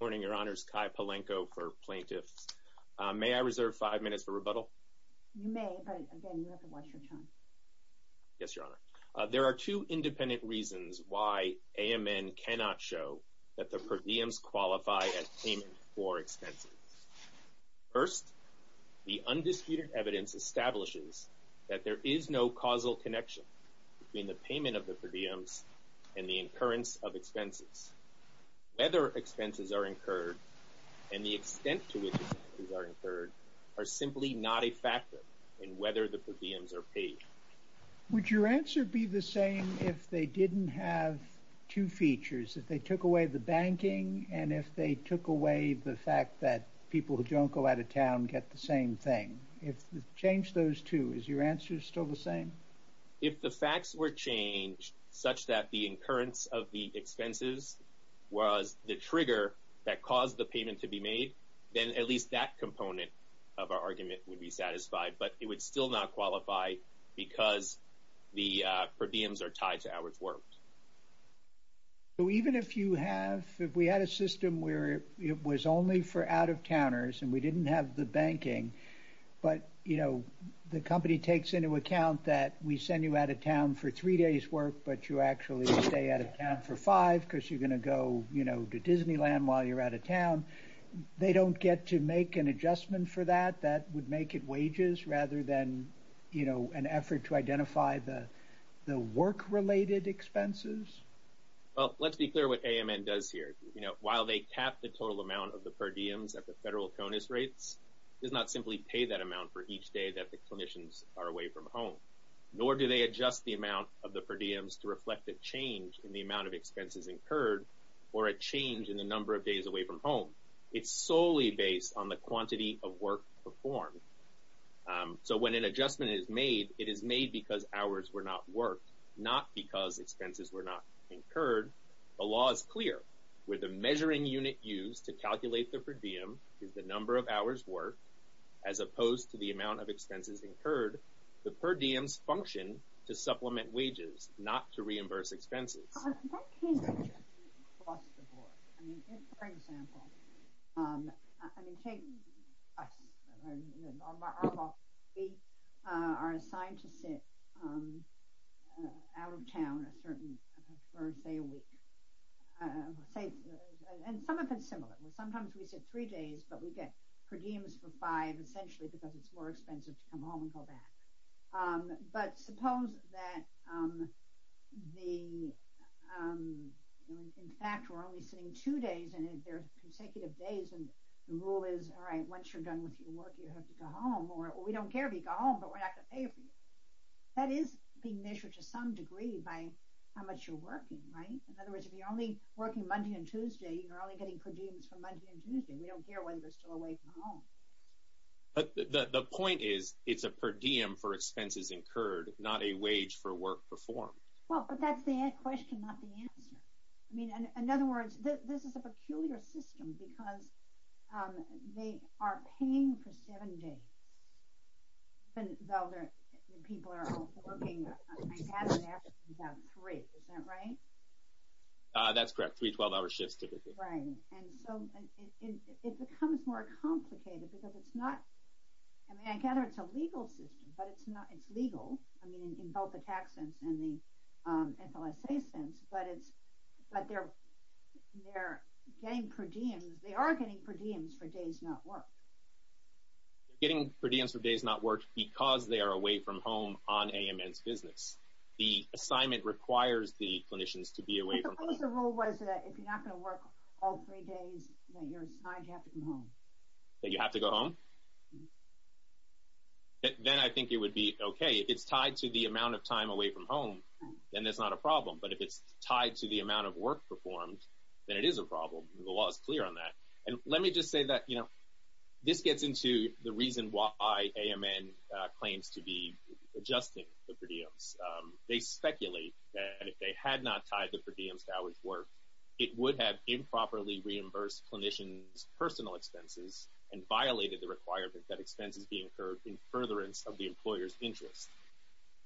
Good morning, Your Honors. Kai Palenko for Plaintiffs. May I reserve five minutes for rebuttal? You may, but again, you have to watch your time. Yes, Your Honor. There are two independent reasons why AMN cannot show that the per diems qualify as payment for expenses. First, the undisputed evidence establishes that there is no causal connection between the payment of the per diems and the incurrence of expenses. Whether expenses are incurred and the extent to which expenses are incurred are simply not a factor in whether the per diems are paid. Would your answer be the same if they didn't have two features? If they took away the banking and if they took away the fact that people who don't go out of town get the same thing? If you change those two, is your answer still the same? If the facts were changed such that the incurrence of the expenses was the trigger that caused the payment to be made, then at least that component of our argument would be satisfied, but it would still not qualify because the per diems are tied to hours worked. So even if you have, if we had a system where it was only for out-of-towners and we didn't have the banking, but, you know, the company takes into account that we send you out of town for three days' work, but you actually stay out of town for five because you're going to go, you know, to Disneyland while you're out of town. They don't get to make an adjustment for that? That would make it wages rather than, you know, an effort to identify the work-related expenses? Well, let's be clear what AMN does here. You know, while they cap the total amount of the per diems at the federal CONUS rates, it does not simply pay that amount for each day that the clinicians are away from home, nor do they adjust the amount of the per diems to reflect a change in the amount of expenses incurred or a change in the number of days away from home. It's solely based on the quantity of work performed. So when an adjustment is made, it is made because hours were not worked, not because expenses were not incurred. The law is clear. Where the measuring unit used to calculate the per diem is the number of hours worked, as opposed to the amount of expenses incurred, the per diems function to supplement wages, not to reimburse expenses. That can be adjusted across the board. I mean, for example, I mean, take us. Our law, we are assigned to sit out of town a certain, say, a week. And some of it's similar. Sometimes we sit three days, but we get per diems for five, essentially, because it's more expensive to come home and go back. But suppose that the, in fact, we're only sitting two days, and there's consecutive days, and the rule is, all right, once you're done with your work, you have to go home, or we don't care if you go home, but we're not going to pay for you. That is being measured to some degree by how much you're working, right? In other words, if you're only working Monday and Tuesday, you're only getting per diems for Monday and Tuesday. We don't care whether you're still away from home. But the point is, it's a per diem for expenses incurred, not a wage for work performed. Well, but that's the question, not the answer. I mean, in other words, this is a peculiar system because they are paying for seven days, even though people are working, I gather, about three, is that right? That's correct. Three 12-hour shifts, typically. Right, and so it becomes more complicated because it's not, I mean, I gather it's a legal system, but it's not, it's legal, I mean, in both the tax sense and the FLSA sense, but they're getting per diems, they are getting per diems for days not worked. They're getting per diems for days not worked because they are away from home on AMN's business. The assignment requires the clinicians to be away from home. What was the rule was that if you're not going to work all three days that you're assigned to have to go home? That you have to go home? Then I think it would be okay. If it's tied to the amount of time away from home, then that's not a problem. But if it's tied to the amount of work performed, then it is a problem. The law is clear on that. And let me just say that, you know, this gets into the reason why AMN claims to be adjusting the per diems. They speculate that if they had not tied the per diems to hours worked, it would have improperly reimbursed clinicians' personal expenses and violated the requirement that expenses be incurred in furtherance of the employer's interest.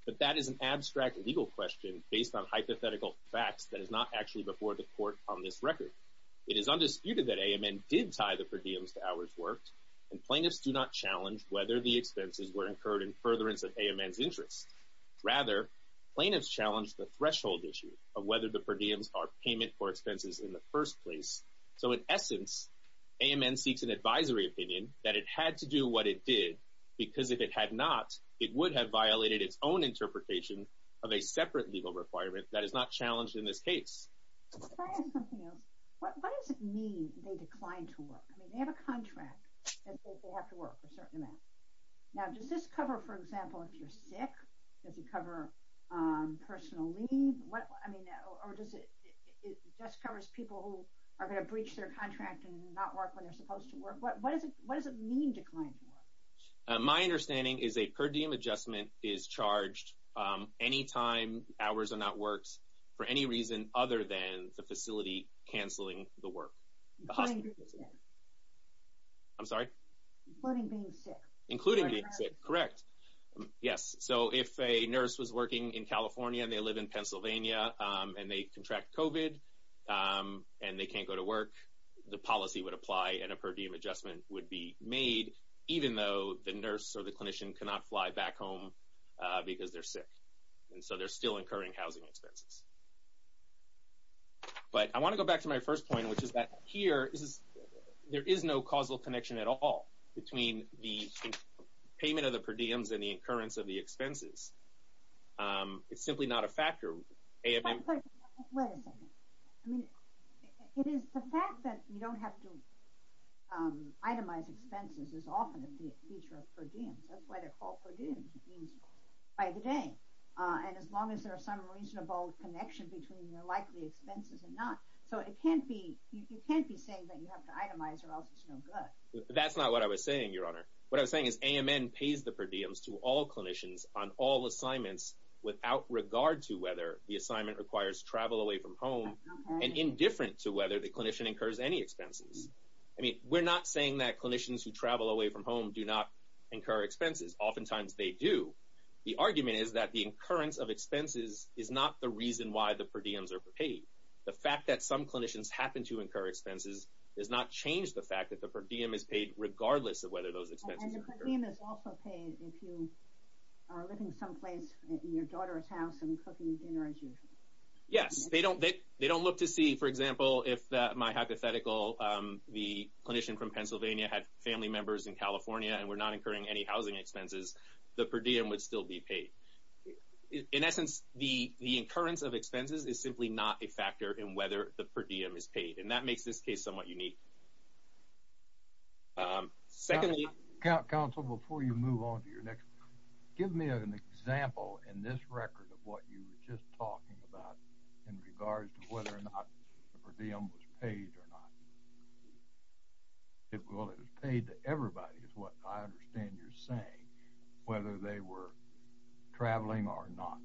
But that is an abstract legal question based on hypothetical facts that is not actually before the court on this record. It is undisputed that AMN did tie the per diems to hours worked, and plaintiffs do not challenge whether the expenses were incurred in furtherance of AMN's interest. Rather, plaintiffs challenge the threshold issue of whether the per diems are payment for expenses in the first place. So in essence, AMN seeks an advisory opinion that it had to do what it did because if it had not, it would have violated its own interpretation of a separate legal requirement that is not challenged in this case. Can I ask something else? What does it mean they declined to work? I mean, they have a contract that they have to work a certain amount. Now, does this cover, for example, if you're sick? Does it cover personal leave? I mean, or does it just cover people who are going to breach their contract and not work when they're supposed to work? What does it mean decline to work? My understanding is a per diem adjustment is charged any time hours are not worked for any reason other than the facility canceling the work. Including being sick. I'm sorry? Including being sick. Including being sick, correct. Yes, so if a nurse was working in California and they live in Pennsylvania and they contract COVID and they can't go to work, the policy would apply and a per diem adjustment would be made, even though the nurse or the clinician cannot fly back home because they're sick. And so they're still incurring housing expenses. But I want to go back to my first point, which is that here there is no causal connection at all between the payment of the per diems and the incurrence of the expenses. It's simply not a factor. Wait a second. I mean, it is the fact that you don't have to itemize expenses is often a feature of per diems. That's why they're called per diems, means by the day. And as long as there is some reasonable connection between your likely expenses and not. So you can't be saying that you have to itemize or else it's no good. That's not what I was saying, Your Honor. What I was saying is AMN pays the per diems to all clinicians on all assignments without regard to whether the assignment requires travel away from home and indifferent to whether the clinician incurs any expenses. I mean, we're not saying that clinicians who travel away from home do not incur expenses. Oftentimes they do. The argument is that the incurrence of expenses is not the reason why the per diems are paid. The fact that some clinicians happen to incur expenses does not change the fact that the per diem is paid regardless of whether those expenses are incurred. And the per diem is also paid if you are living someplace, in your daughter's house and cooking dinner as usual. Yes. They don't look to see, for example, if my hypothetical, the clinician from Pennsylvania had family members in California and were not incurring any housing expenses, the per diem would still be paid. In essence, the incurrence of expenses is simply not a factor in whether the per diem is paid. And that makes this case somewhat unique. Secondly – Counsel, before you move on to your next – give me an example in this record of what you were just talking about in regards to whether or not the per diem was paid or not. Well, it was paid to everybody is what I understand you're saying, whether they were traveling or not.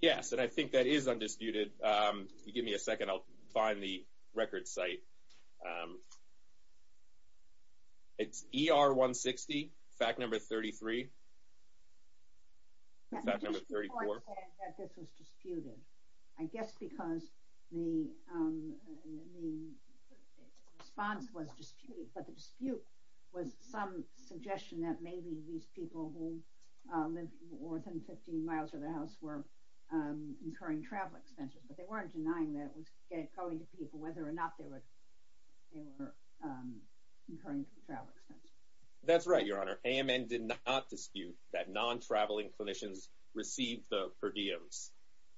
Yes, and I think that is undisputed. Give me a second. I'll find the record site. It's ER 160, fact number 33. Fact number 34. I understand that this was disputed, I guess because the response was disputed, but the dispute was some suggestion that maybe these people who lived more than 15 miles from the house were incurring travel expenses, but they weren't denying that. It was going to people whether or not they were incurring travel expenses. That's right, Your Honor. AMN did not dispute that non-traveling clinicians received the per diems.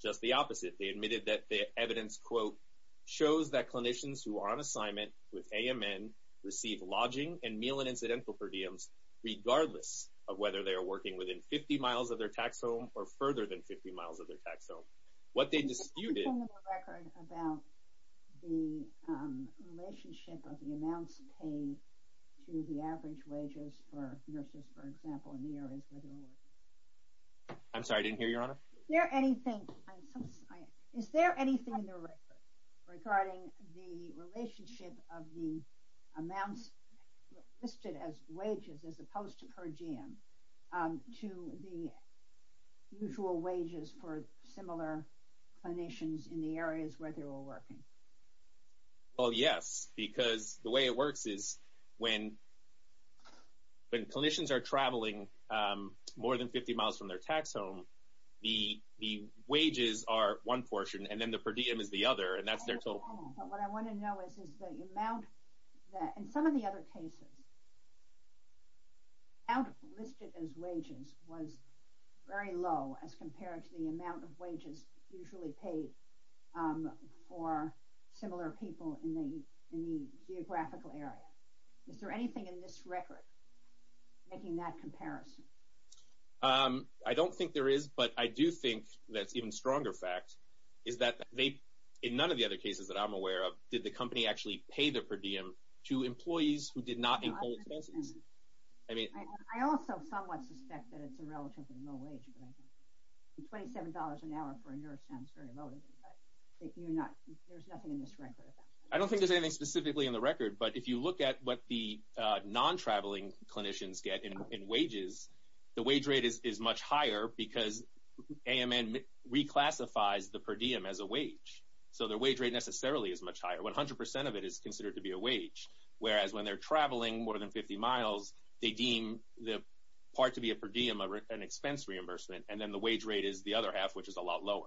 Just the opposite. They admitted that the evidence, quote, shows that clinicians who are on assignment with AMN receive lodging and meal and incidental per diems regardless of whether they are working within 50 miles of their tax home or further than 50 miles of their tax home. What they disputed – I'm sorry, I didn't hear you, Your Honor. Is there anything in the record regarding the relationship of the amounts listed as wages as opposed to per diem to the usual wages for similar clinicians in the areas where they were working? Well, yes, because the way it works is when clinicians are traveling more than 50 miles from their tax home, the wages are one portion, and then the per diem is the other, and that's their total. But what I want to know is the amount – in some of the other cases, the amount listed as wages was very low as compared to the amount of wages usually paid for similar people in the geographical area. Is there anything in this record making that comparison? I don't think there is, but I do think that's an even stronger fact, is that in none of the other cases that I'm aware of did the company actually pay the per diem to employees who did not include expenses. I also somewhat suspect that it's a relatively low wage. $27 an hour for a nurse sounds very low to me, but there's nothing in this record about that. I don't think there's anything specifically in the record, but if you look at what the non-traveling clinicians get in wages, the wage rate is much higher because AMN reclassifies the per diem as a wage, so their wage rate necessarily is much higher. 100 percent of it is considered to be a wage, whereas when they're traveling more than 50 miles, they deem the part to be a per diem an expense reimbursement, and then the wage rate is the other half, which is a lot lower.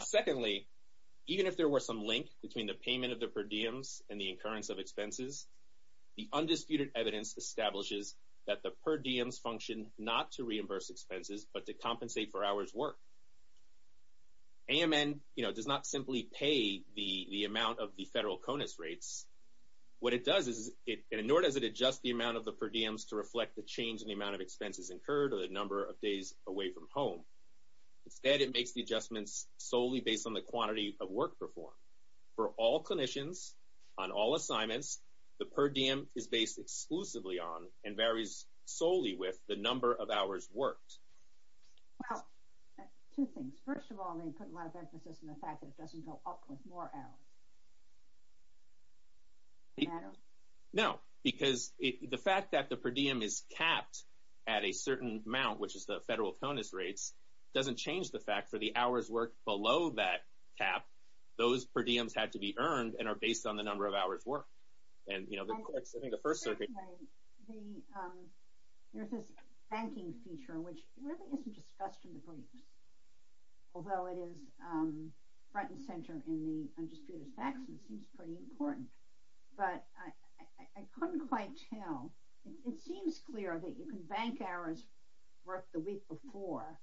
Secondly, even if there were some link between the payment of the per diems and the incurrence of expenses, the undisputed evidence establishes that the per diems function not to reimburse expenses but to compensate for hours' work. AMN, you know, does not simply pay the amount of the federal CONUS rates. What it does is, nor does it adjust the amount of the per diems to reflect the change in the amount of expenses incurred or the number of days away from home. Instead, it makes the adjustments solely based on the quantity of work performed. For all clinicians on all assignments, the per diem is based exclusively on and varies solely with the number of hours worked. Well, two things. First of all, they put a lot of emphasis on the fact that it doesn't go up with more hours. No, because the fact that the per diem is capped at a certain amount, which is the federal CONUS rates, doesn't change the fact for the hours worked below that cap, those per diems had to be earned and are based on the number of hours worked. Secondly, there's this banking feature, which really isn't discussed in the briefs, although it is front and center in the Undisputed Facts and seems pretty important. But I couldn't quite tell. It seems clear that you can bank hours worked the week before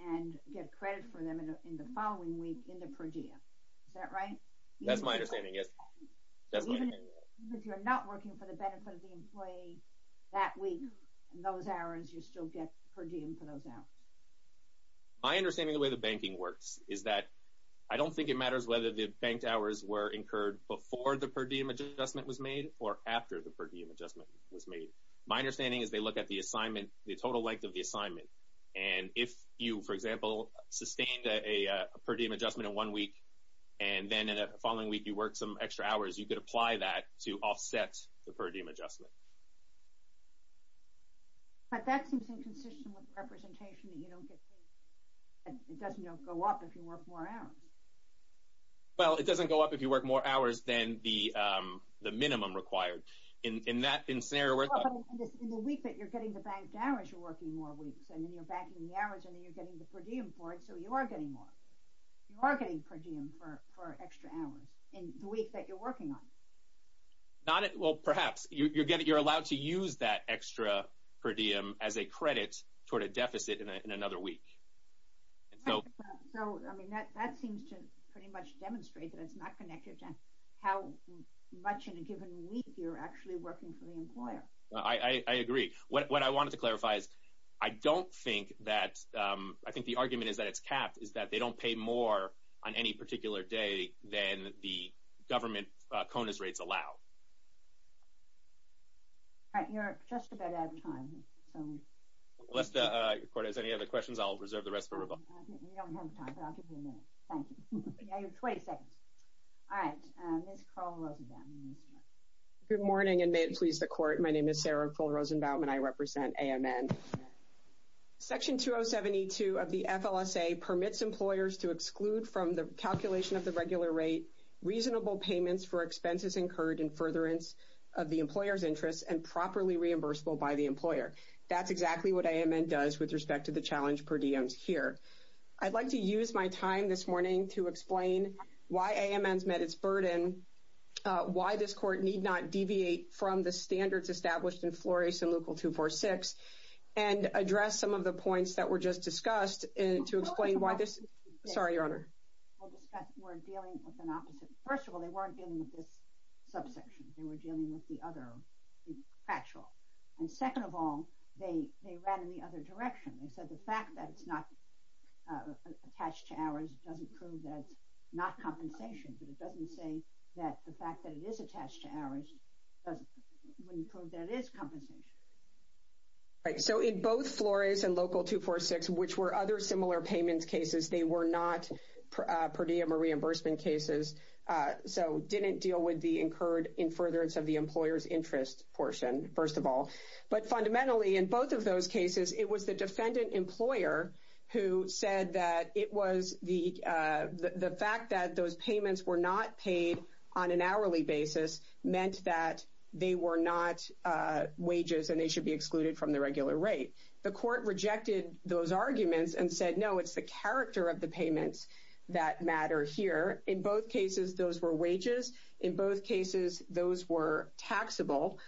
and get credit for them in the following week in the per diem. Is that right? That's my understanding, yes. Even if you're not working for the benefit of the employee that week, in those hours you still get per diem for those hours. My understanding of the way the banking works is that I don't think it matters whether the banked hours were incurred before the per diem adjustment was made or after the per diem adjustment was made. My understanding is they look at the total length of the assignment. And if you, for example, sustained a per diem adjustment in one week and then in the following week you worked some extra hours, you could apply that to offset the per diem adjustment. But that seems inconsistent with representation that you don't get paid. It doesn't go up if you work more hours. Well, it doesn't go up if you work more hours than the minimum required. In that scenario, we're talking about... In the week that you're getting the banked hours, you're working more weeks. And then you're banking the hours and then you're getting the per diem for it, so you are getting more. You are getting per diem for extra hours in the week that you're working on. Well, perhaps. You're allowed to use that extra per diem as a credit toward a deficit in another week. So, I mean, that seems to pretty much demonstrate that it's not connected to how much in a given week you're actually working for the employer. I agree. What I wanted to clarify is I don't think that... I think the argument is that it's capped, is that they don't pay more on any particular day than the government CONUS rates allow. All right, you're just about out of time. Unless the court has any other questions, I'll reserve the rest for Rebecca. We don't have time, but I'll give you a minute. Thank you. You have 20 seconds. All right. Ms. Carl Rosenbaum. Good morning, and may it please the court. My name is Sarah Carl Rosenbaum, and I represent AMN. Section 2072 of the FLSA permits employers to exclude from the calculation of the regular rate reasonable payments for expenses incurred in furtherance of the employer's interests and properly reimbursable by the employer. That's exactly what AMN does with respect to the challenge per diems here. I'd like to use my time this morning to explain why AMN's met its burden, why this court need not deviate from the standards established in Flores and Leucol 246, and address some of the points that were just discussed to explain why this... Sorry, Your Honor. We're dealing with an opposite... First of all, they weren't dealing with this subsection. They were dealing with the other factual. And second of all, they ran in the other direction. They said the fact that it's not attached to hours doesn't prove that it's not compensation, but it doesn't say that the fact that it is attached to hours doesn't prove that it is compensation. Right. So in both Flores and Leucol 246, which were other similar payments cases, they were not per diem or reimbursement cases, so didn't deal with the incurred in furtherance of the employer's interest portion, first of all. But fundamentally, in both of those cases, it was the defendant employer who said that it was the fact that those payments were not paid on an hourly basis meant that they were not wages and they should be excluded from the regular rate. The court rejected those arguments and said, no, it's the character of the payments that matter here. In both cases, those were wages. In both cases, those were taxable.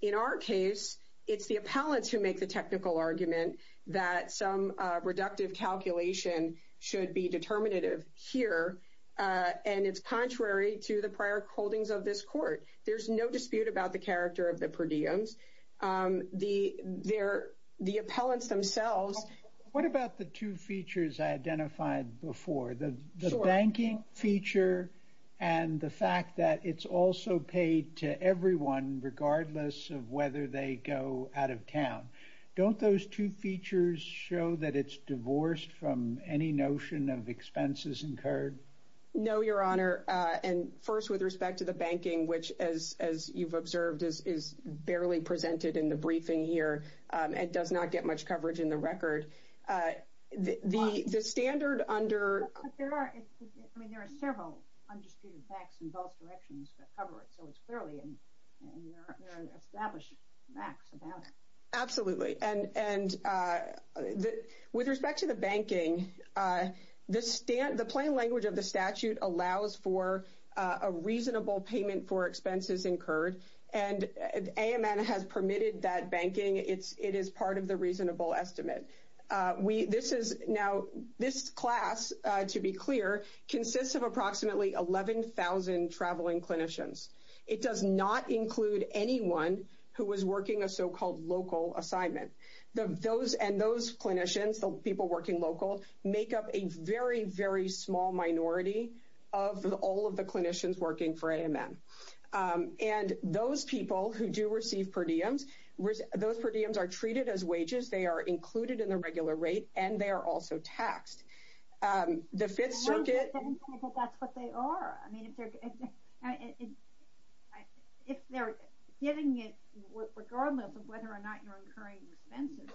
In our case, it's the appellants who make the technical argument that some reductive calculation should be determinative here, and it's contrary to the prior holdings of this court. There's no dispute about the character of the per diems. The appellants themselves. What about the two features I identified before, the banking feature and the fact that it's also paid to everyone, regardless of whether they go out of town? Don't those two features show that it's divorced from any notion of expenses incurred? No, Your Honor. First, with respect to the banking, which, as you've observed, is barely presented in the briefing here and does not get much coverage in the record, the standard under... There are several undisputed facts in both directions that cover it, so it's fairly established facts about it. Absolutely. And with respect to the banking, the plain language of the statute allows for a reasonable payment for expenses incurred, and AMN has permitted that banking. It is part of the reasonable estimate. Now, this class, to be clear, consists of approximately 11,000 traveling clinicians. It does not include anyone who is working a so-called local assignment. And those clinicians, the people working local, make up a very, very small minority of all of the clinicians working for AMN. And those people who do receive per diems, those per diems are treated as wages. They are included in the regular rate, and they are also taxed. The Fifth Circuit... If they're getting it regardless of whether or not you're incurring expenses,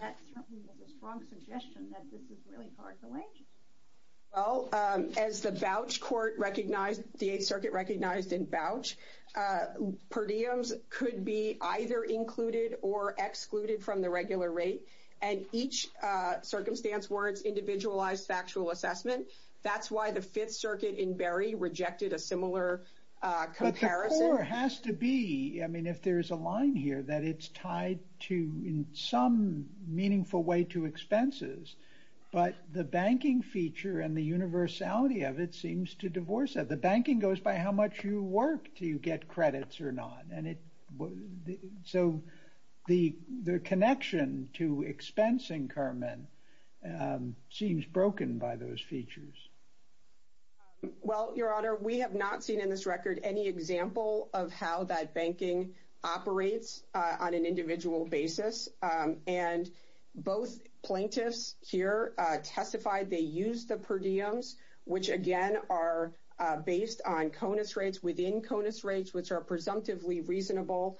that certainly is a strong suggestion that this is really part of the wages. Well, as the vouch court recognized, the Eighth Circuit recognized in vouch, per diems could be either included or excluded from the regular rate, and each circumstance warrants individualized factual assessment. That's why the Fifth Circuit in Berry rejected a similar comparison. But the core has to be, I mean, if there is a line here, that it's tied to, in some meaningful way, to expenses. But the banking feature and the universality of it seems to divorce that. The banking goes by how much you work, do you get credits or not. So the connection to expensing, Carmen, seems broken by those features. Well, Your Honor, we have not seen in this record any example of how that banking operates on an individual basis. And both plaintiffs here testified they used the per diems, which, again, are based on CONUS rates within CONUS rates, which are presumptively reasonable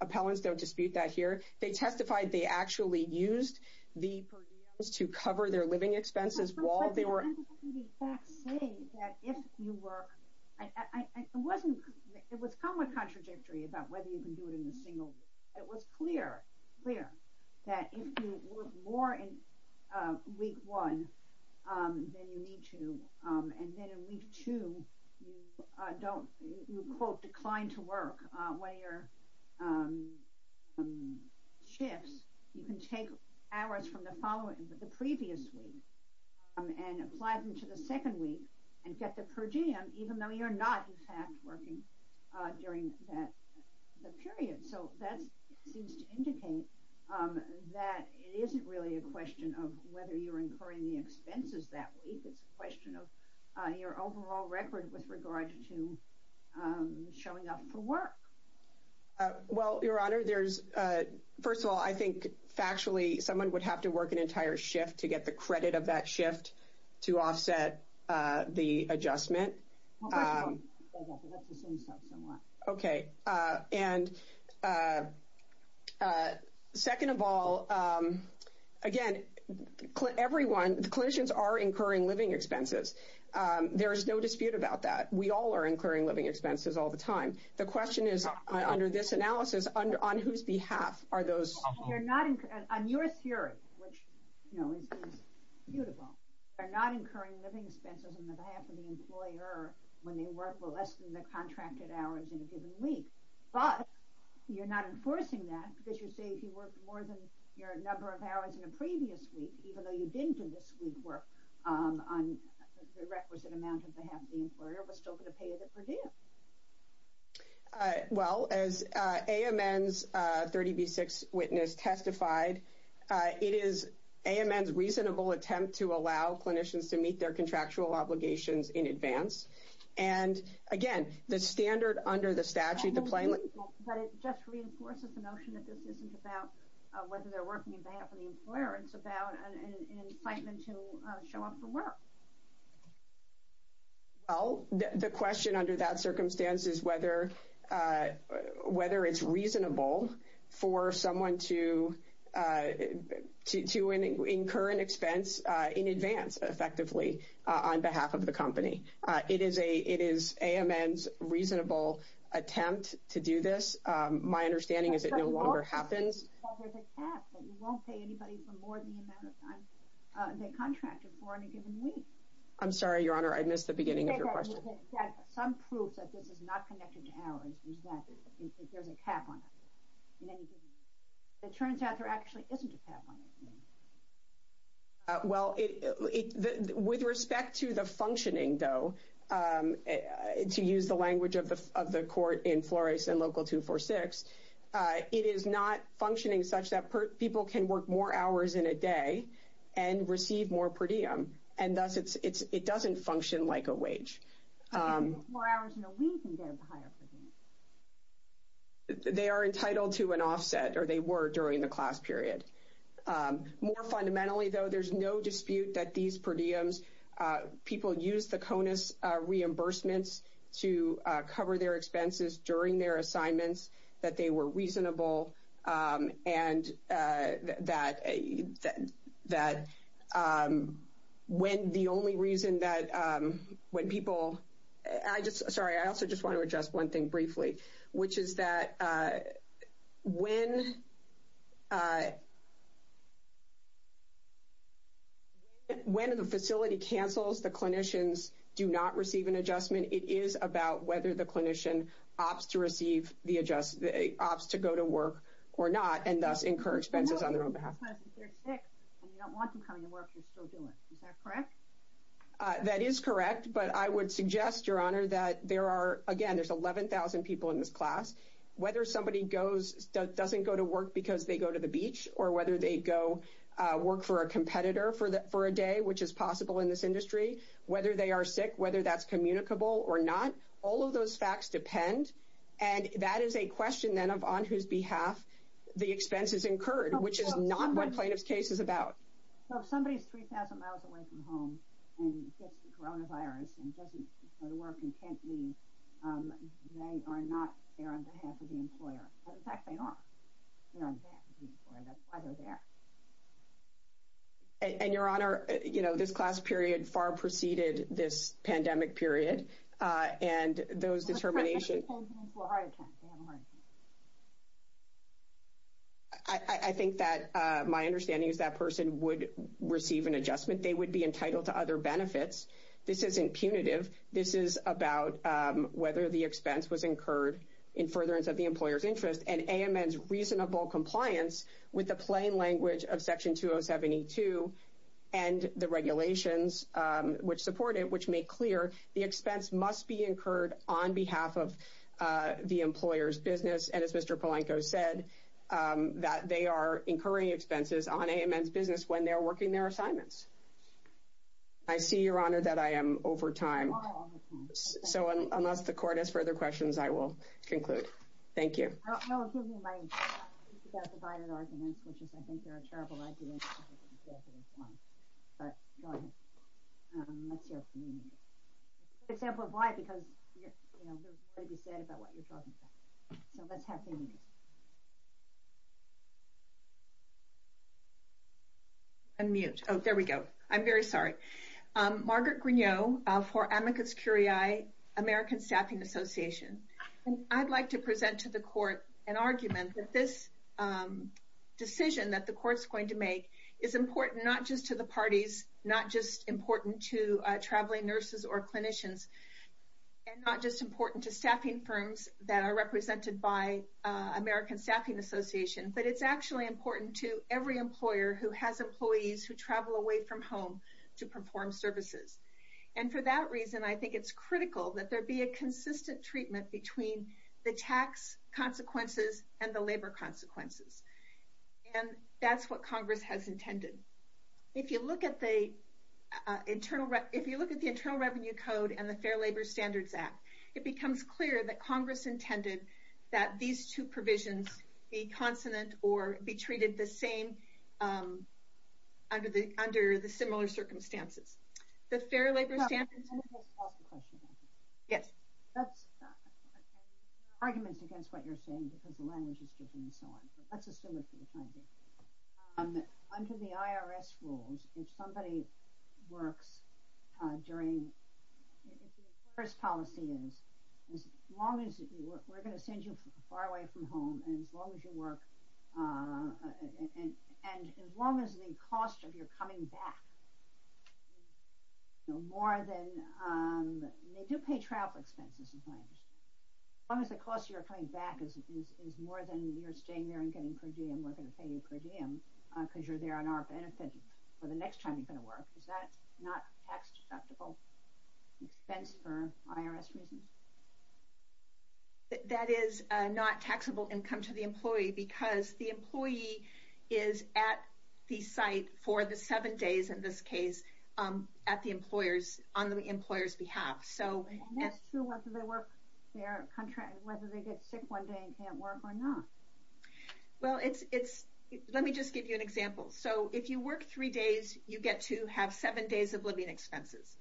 appellants. Don't dispute that here. They testified they actually used the per diems to cover their living expenses while they were... I'm just going to say that if you work... It was somewhat contradictory about whether you can do it in a single week. It was clear that if you work more in week one, then you need to. And then in week two, you quote, decline to work. One of your shifts, you can take hours from the previous week and apply them to the second week and get the per diem, even though you're not, in fact, working during that period. So that seems to indicate that it isn't really a question of whether you're incurring the expenses that week. It's a question of your overall record with regard to showing up for work. Well, Your Honor, there's... First of all, I think factually someone would have to work an entire shift to get the credit of that shift to offset the adjustment. Well, first of all... Okay. And second of all, again, everyone... There is no dispute about that. We all are incurring living expenses all the time. The question is, under this analysis, on whose behalf are those... On your theory, which is beautiful. They're not incurring living expenses on behalf of the employer when they work less than the contracted hours in a given week. But you're not enforcing that because you say if you worked more than your number of hours in a previous week, even though you didn't do this week's work, on the requisite amount on behalf of the employer, we're still going to pay you the per diem. Well, as AMN's 30B6 witness testified, it is AMN's reasonable attempt to allow clinicians to meet their contractual obligations in advance. And again, the standard under the statute, the plain language... But it just reinforces the notion that this isn't about whether they're working on behalf of the employer. It's about an incitement to show up for work. Well, the question under that circumstance is whether it's reasonable for someone to incur an expense in advance, effectively, on behalf of the company. It is AMN's reasonable attempt to do this. My understanding is it no longer happens. Well, there's a cap that you won't pay anybody for more than the amount of time they contracted for in a given week. I'm sorry, Your Honor, I missed the beginning of your question. Some proof that this is not connected to hours is that there's a cap on it in any given week. It turns out there actually isn't a cap on it. Well, with respect to the functioning, though, to use the language of the court in Flores and Local 246, it is not functioning such that people can work more hours in a day and receive more per diem, and thus it doesn't function like a wage. More hours in a week and get a higher per diem. They are entitled to an offset, or they were during the class period. More fundamentally, though, there's no dispute that these per diems, people use the CONUS reimbursements to cover their expenses during their assignments, that they were reasonable, and that when the only reason that when people... Sorry, I also just want to address one thing briefly, which is that when the facility cancels, the clinicians do not receive an adjustment. It is about whether the clinician opts to go to work or not and thus incur expenses on their own behalf. If they're sick and you don't want them coming to work, you're still doing it. Is that correct? That is correct, but I would suggest, Your Honor, that there are, again, there's 11,000 people in this class. Whether somebody doesn't go to work because they go to the beach or whether they go work for a competitor for a day, which is possible in this industry, whether they are sick, whether that's communicable or not, all of those facts depend, and that is a question, then, of on whose behalf the expense is incurred, which is not what plaintiff's case is about. If somebody is 3,000 miles away from home and gets the coronavirus and doesn't go to work and can't leave, they are not there on behalf of the employer. In fact, they are there on behalf of the employer. That's why they're there. And, Your Honor, you know, this class period far preceded this pandemic period, and those determinations – What kind of – I can't hear. I think that my understanding is that person would receive an adjustment. They would be entitled to other benefits. This isn't punitive. This is about whether the expense was incurred in furtherance of the employer's interest, and AMN's reasonable compliance with the plain language of Section 2072 and the regulations which support it, which make clear the expense must be incurred on behalf of the employer's business, and as Mr. Polanco said, that they are incurring expenses on AMN's business when they are working their assignments. I see, Your Honor, that I am over time. So unless the Court has further questions, I will conclude. Thank you. Unmute. Oh, there we go. I'm very sorry. Margaret Grignot for Amicus Curiae American Staffing Association. I'd like to present to the Court an argument that this decision that the Court's going to make is important not just to the parties, not just important to traveling nurses or clinicians, and not just important to staffing firms that are represented by American Staffing Association, but it's actually important to every employer who has employees who travel away from home to perform services. And for that reason, I think it's critical that there be a consistent treatment between the tax consequences and the labor consequences. And that's what Congress has intended. If you look at the Internal Revenue Code and the Fair Labor Standards Act, it becomes clear that Congress intended that these two provisions be consonant or be treated the same under the similar circumstances. The Fair Labor Standards... Can I just ask a question? Yes. That's... There are arguments against what you're saying because the language is different and so on, but let's assume it for the time being. Under the IRS rules, if somebody works during... If the IRS policy is, as long as you work... We're going to send you far away from home, and as long as you work... And as long as the cost of your coming back... More than... They do pay travel expenses, in my understanding. As long as the cost of your coming back is more than you're staying there and getting per diem, we're going to pay you per diem, because you're there on our benefit for the next time you're going to work. Is that not a tax-deductible expense for IRS reasons? That is not taxable income to the employee because the employee is at the site for the seven days, in this case, on the employer's behalf. And that's true whether they get sick one day and can't work or not. Let me just give you an example. If you work three days, you get to have seven days of living expenses.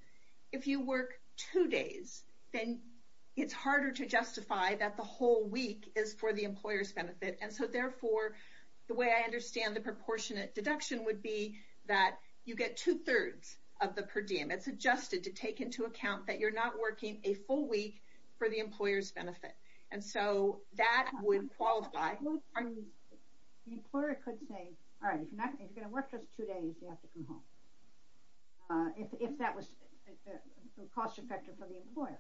If you work two days, then it's harder to justify that the whole week is for the employer's benefit, and so therefore, the way I understand the proportionate deduction would be that you get two-thirds of the per diem. It's adjusted to take into account that you're not working a full week for the employer's benefit. And so that would qualify... The employer could say, all right, if you're going to work just two days, you have to come home, if that was cost-effective for the employer.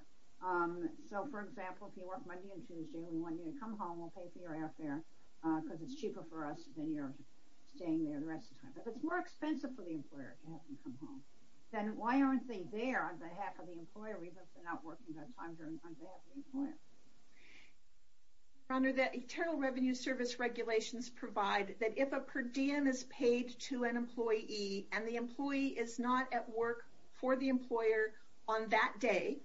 So, for example, if you work Monday and Tuesday, we want you to come home, we'll pay for your airfare, because it's cheaper for us than you're staying there the rest of the time. But if it's more expensive for the employer to have them come home, then why aren't they there on behalf of the employer, even if they're not working that time on behalf of the employer? Honor, the Internal Revenue Service regulations provide that if a per diem is paid to an employee, and the employee is not at work for the employer on that day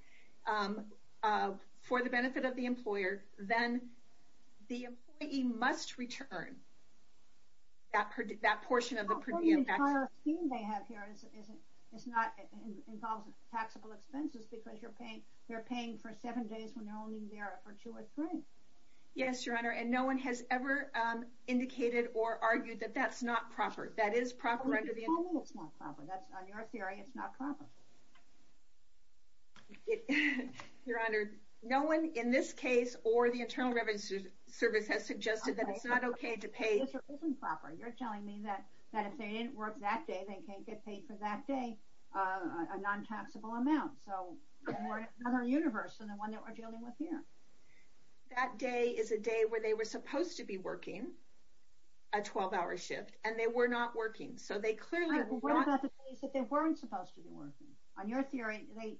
for the benefit of the employer, then the employee must return that portion of the per diem tax. Well, the entire scheme they have here involves taxable expenses, because they're paying for seven days when they're only there for two or three. Yes, Your Honor, and no one has ever indicated or argued that that's not proper. That is proper under the... I mean, it's not proper. On your theory, it's not proper. Your Honor, no one in this case or the Internal Revenue Service has suggested that it's not okay to pay... It isn't proper. You're telling me that if they didn't work that day, they can't get paid for that day a non-taxable amount. So we're in another universe than the one that we're dealing with here. That day is a day where they were supposed to be working, a 12-hour shift, and they were not working. So they clearly were not... What about the days that they weren't supposed to be working? On your theory, they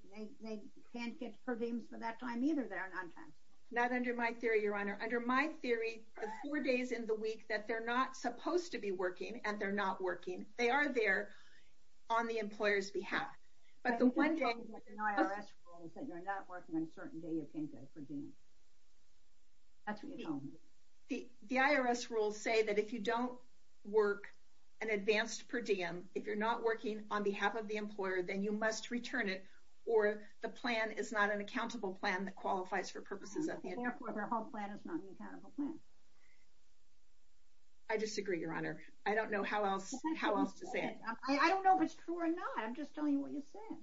can't get per diems for that time either that are non-taxable. Not under my theory, Your Honor. Under my theory, the four days in the week that they're not supposed to be working and they're not working, they are there on the employer's behalf. But the one day... I think you're dealing with an IRS rule that you're not working on a certain day you can't get a per diem. That's what you're telling me. The IRS rules say that if you don't work an advanced per diem, if you're not working on behalf of the employer, then you must return it, or the plan is not an accountable plan that qualifies for purposes of... Therefore, the whole plan is not an accountable plan. I disagree, Your Honor. I don't know how else to say it. I don't know if it's true or not. I'm just telling you what you said.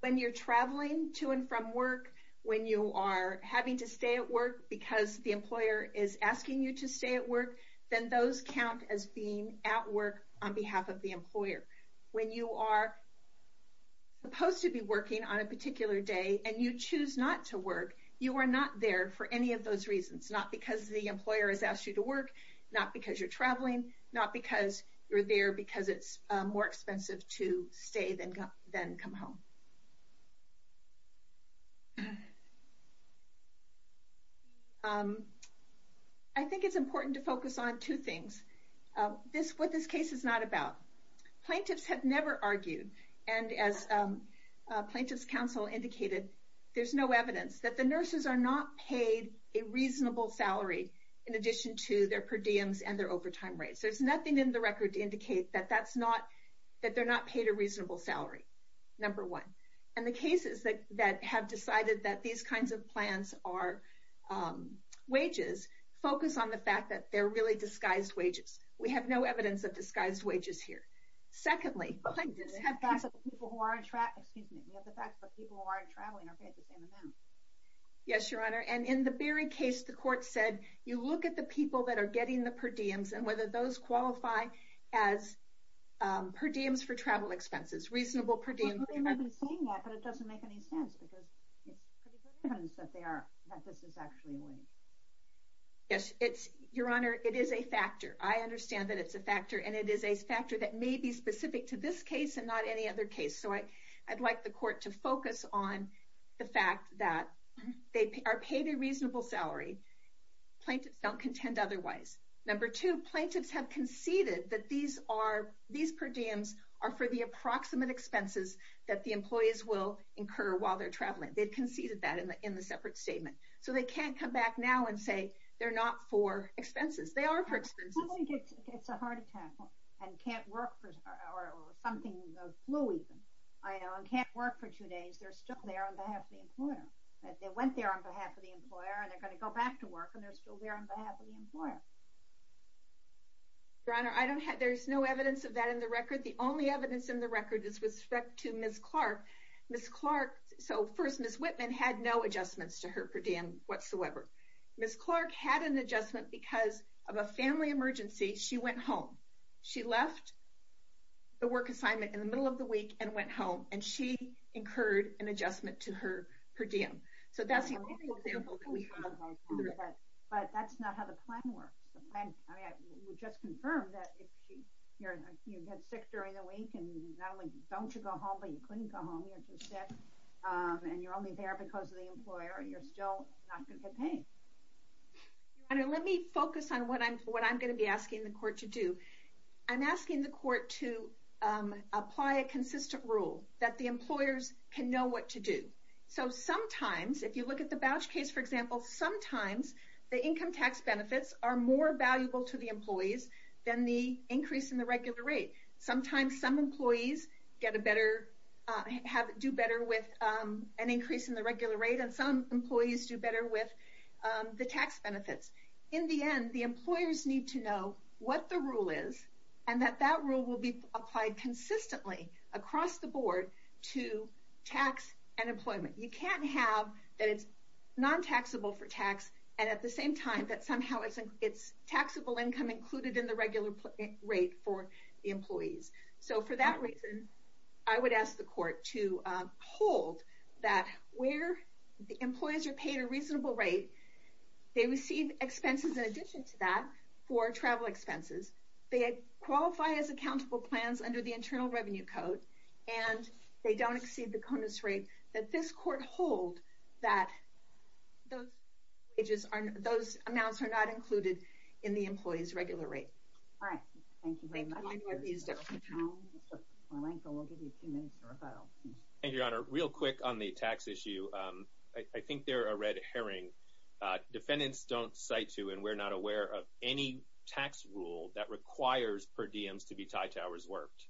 When you're traveling to and from work, when you are having to stay at work because the employer is asking you to stay at work, then those count as being at work on behalf of the employer. When you are supposed to be working on a particular day, and you choose not to work, you are not there for any of those reasons. Not because the employer has asked you to work, not because you're traveling, not because you're there because it's more expensive to stay than come home. I think it's important to focus on two things. What this case is not about. Plaintiffs have never argued, and as Plaintiffs' Counsel indicated, there's no evidence that the nurses are not paid a reasonable salary in addition to their per diems and their overtime rates. There's nothing in the record to indicate that they're not paid a reasonable salary. Number one. And the cases that have decided that these kinds of plans are wages focus on the fact that they're really disguised wages. We have no evidence of disguised wages here. Secondly. We have the fact that people who aren't traveling are paid the same amount. Yes, Your Honor. And in the Berry case, the court said, you look at the people that are getting the per diems and whether those qualify as per diems for travel expenses. Reasonable per diems. Well, they may be saying that, but it doesn't make any sense because it's pretty good evidence that this is actually a wage. Yes, Your Honor. It is a factor. I understand that it's a factor, and it is a factor that may be specific to this case and not any other case. So I'd like the court to focus on the fact that they are paid a reasonable salary. Plaintiffs don't contend otherwise. Number two. Plaintiffs have conceded that these per diems are for the approximate expenses that the employees will incur while they're traveling. They've conceded that in the separate statement. So they can't come back now and say they're not for expenses. They are for expenses. I don't think it's a heart attack and can't work for two days. They're still there on behalf of the employer. They went there on behalf of the employer, and they're going to go back to work, and they're still there on behalf of the employer. Your Honor, there's no evidence of that in the record. The only evidence in the record is with respect to Ms. Clark. So first, Ms. Whitman had no adjustments to her per diem whatsoever. Ms. Clark had an adjustment because of a family emergency. She went home. She left the work assignment in the middle of the week and went home, and she incurred an adjustment to her per diem. So that's the only example that we have. But that's not how the plan works. You just confirmed that if you get sick during the week and not only don't you go home, but you couldn't go home, you're too sick, and you're only there because of the employer, you're still not going to get paid. Your Honor, let me focus on what I'm going to be asking the court to do. I'm asking the court to apply a consistent rule that the employers can know what to do. So sometimes, if you look at the voucher case, for example, sometimes the income tax benefits are more valuable to the employees than the increase in the regular rate. Sometimes some employees do better with an increase in the regular rate, and some employees do better with the tax benefits. In the end, the employers need to know what the rule is and that that rule will be applied consistently across the board to tax and employment. You can't have that it's non-taxable for tax and at the same time that somehow it's taxable income included in the regular rate for the employees. So for that reason, I would ask the court to hold that where the employees are paid a reasonable rate, they receive expenses in addition to that for travel expenses, they qualify as accountable plans under the Internal Revenue Code, and they don't exceed the CONUS rate, that this court hold that those amounts are not included in the employees' regular rate. All right. Thank you, Raymond. Mr. Polanco, we'll give you a few minutes for rebuttal. Thank you, Your Honor. Real quick on the tax issue. I think there are a red herring. Defendants don't cite to, and we're not aware of, any tax rule that requires per diems to be tied to hours worked,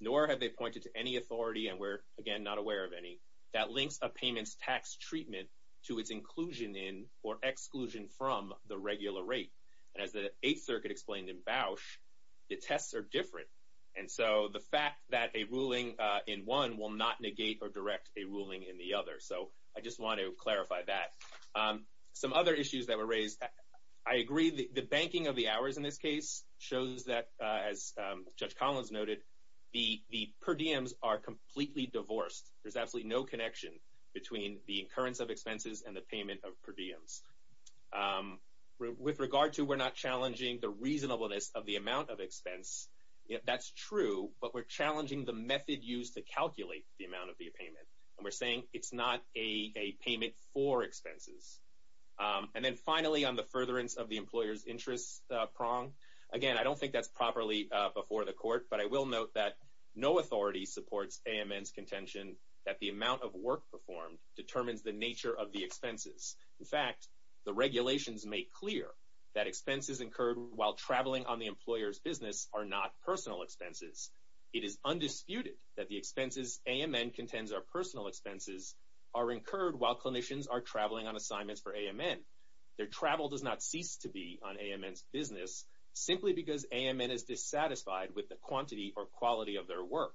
nor have they pointed to any authority, and we're, again, not aware of any, that links a payment's tax treatment to its inclusion in or exclusion from the regular rate. And as the Eighth Circuit explained in Bausch, the tests are different. And so the fact that a ruling in one will not negate or direct a ruling in the other. So I just want to clarify that. Some other issues that were raised. I agree the banking of the hours in this case shows that, as Judge Collins noted, the per diems are completely divorced. There's absolutely no connection between the incurrence of expenses and the payment of per diems. With regard to we're not challenging the reasonableness of the amount of expense, that's true, but we're challenging the method used to calculate the amount of the payment. And we're saying it's not a payment for expenses. And then finally, on the furtherance of the employer's interest prong. Again, I don't think that's properly before the court, but I will note that no authority supports AMN's contention that the amount of work performed determines the nature of the expenses. In fact, the regulations make clear that expenses incurred while traveling on the employer's business are not personal expenses. It is undisputed that the expenses AMN contends are personal expenses are incurred while clinicians are traveling on assignments for AMN. Their travel does not cease to be on AMN's business simply because AMN is dissatisfied with the quantity or quality of their work.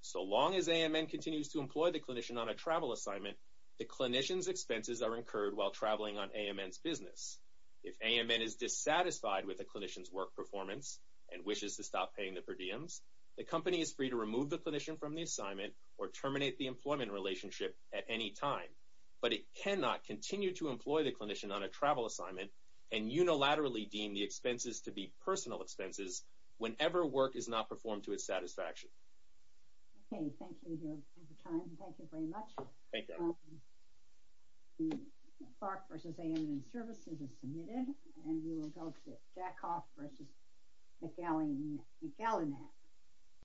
So long as AMN continues to employ the clinician on a travel assignment, the clinician's expenses are incurred while traveling on AMN's business. If AMN is dissatisfied with a clinician's work performance and wishes to stop paying the per diems, the company is free to remove the clinician from the assignment or terminate the employment relationship at any time. But it cannot continue to employ the clinician on a travel assignment and unilaterally deem the expenses to be personal expenses whenever work is not performed to its satisfaction. Okay, thank you for your time. Thank you very much. Thank you. Park v. AMN Services is submitted. And we will go to Jack Hoff v. McAllen.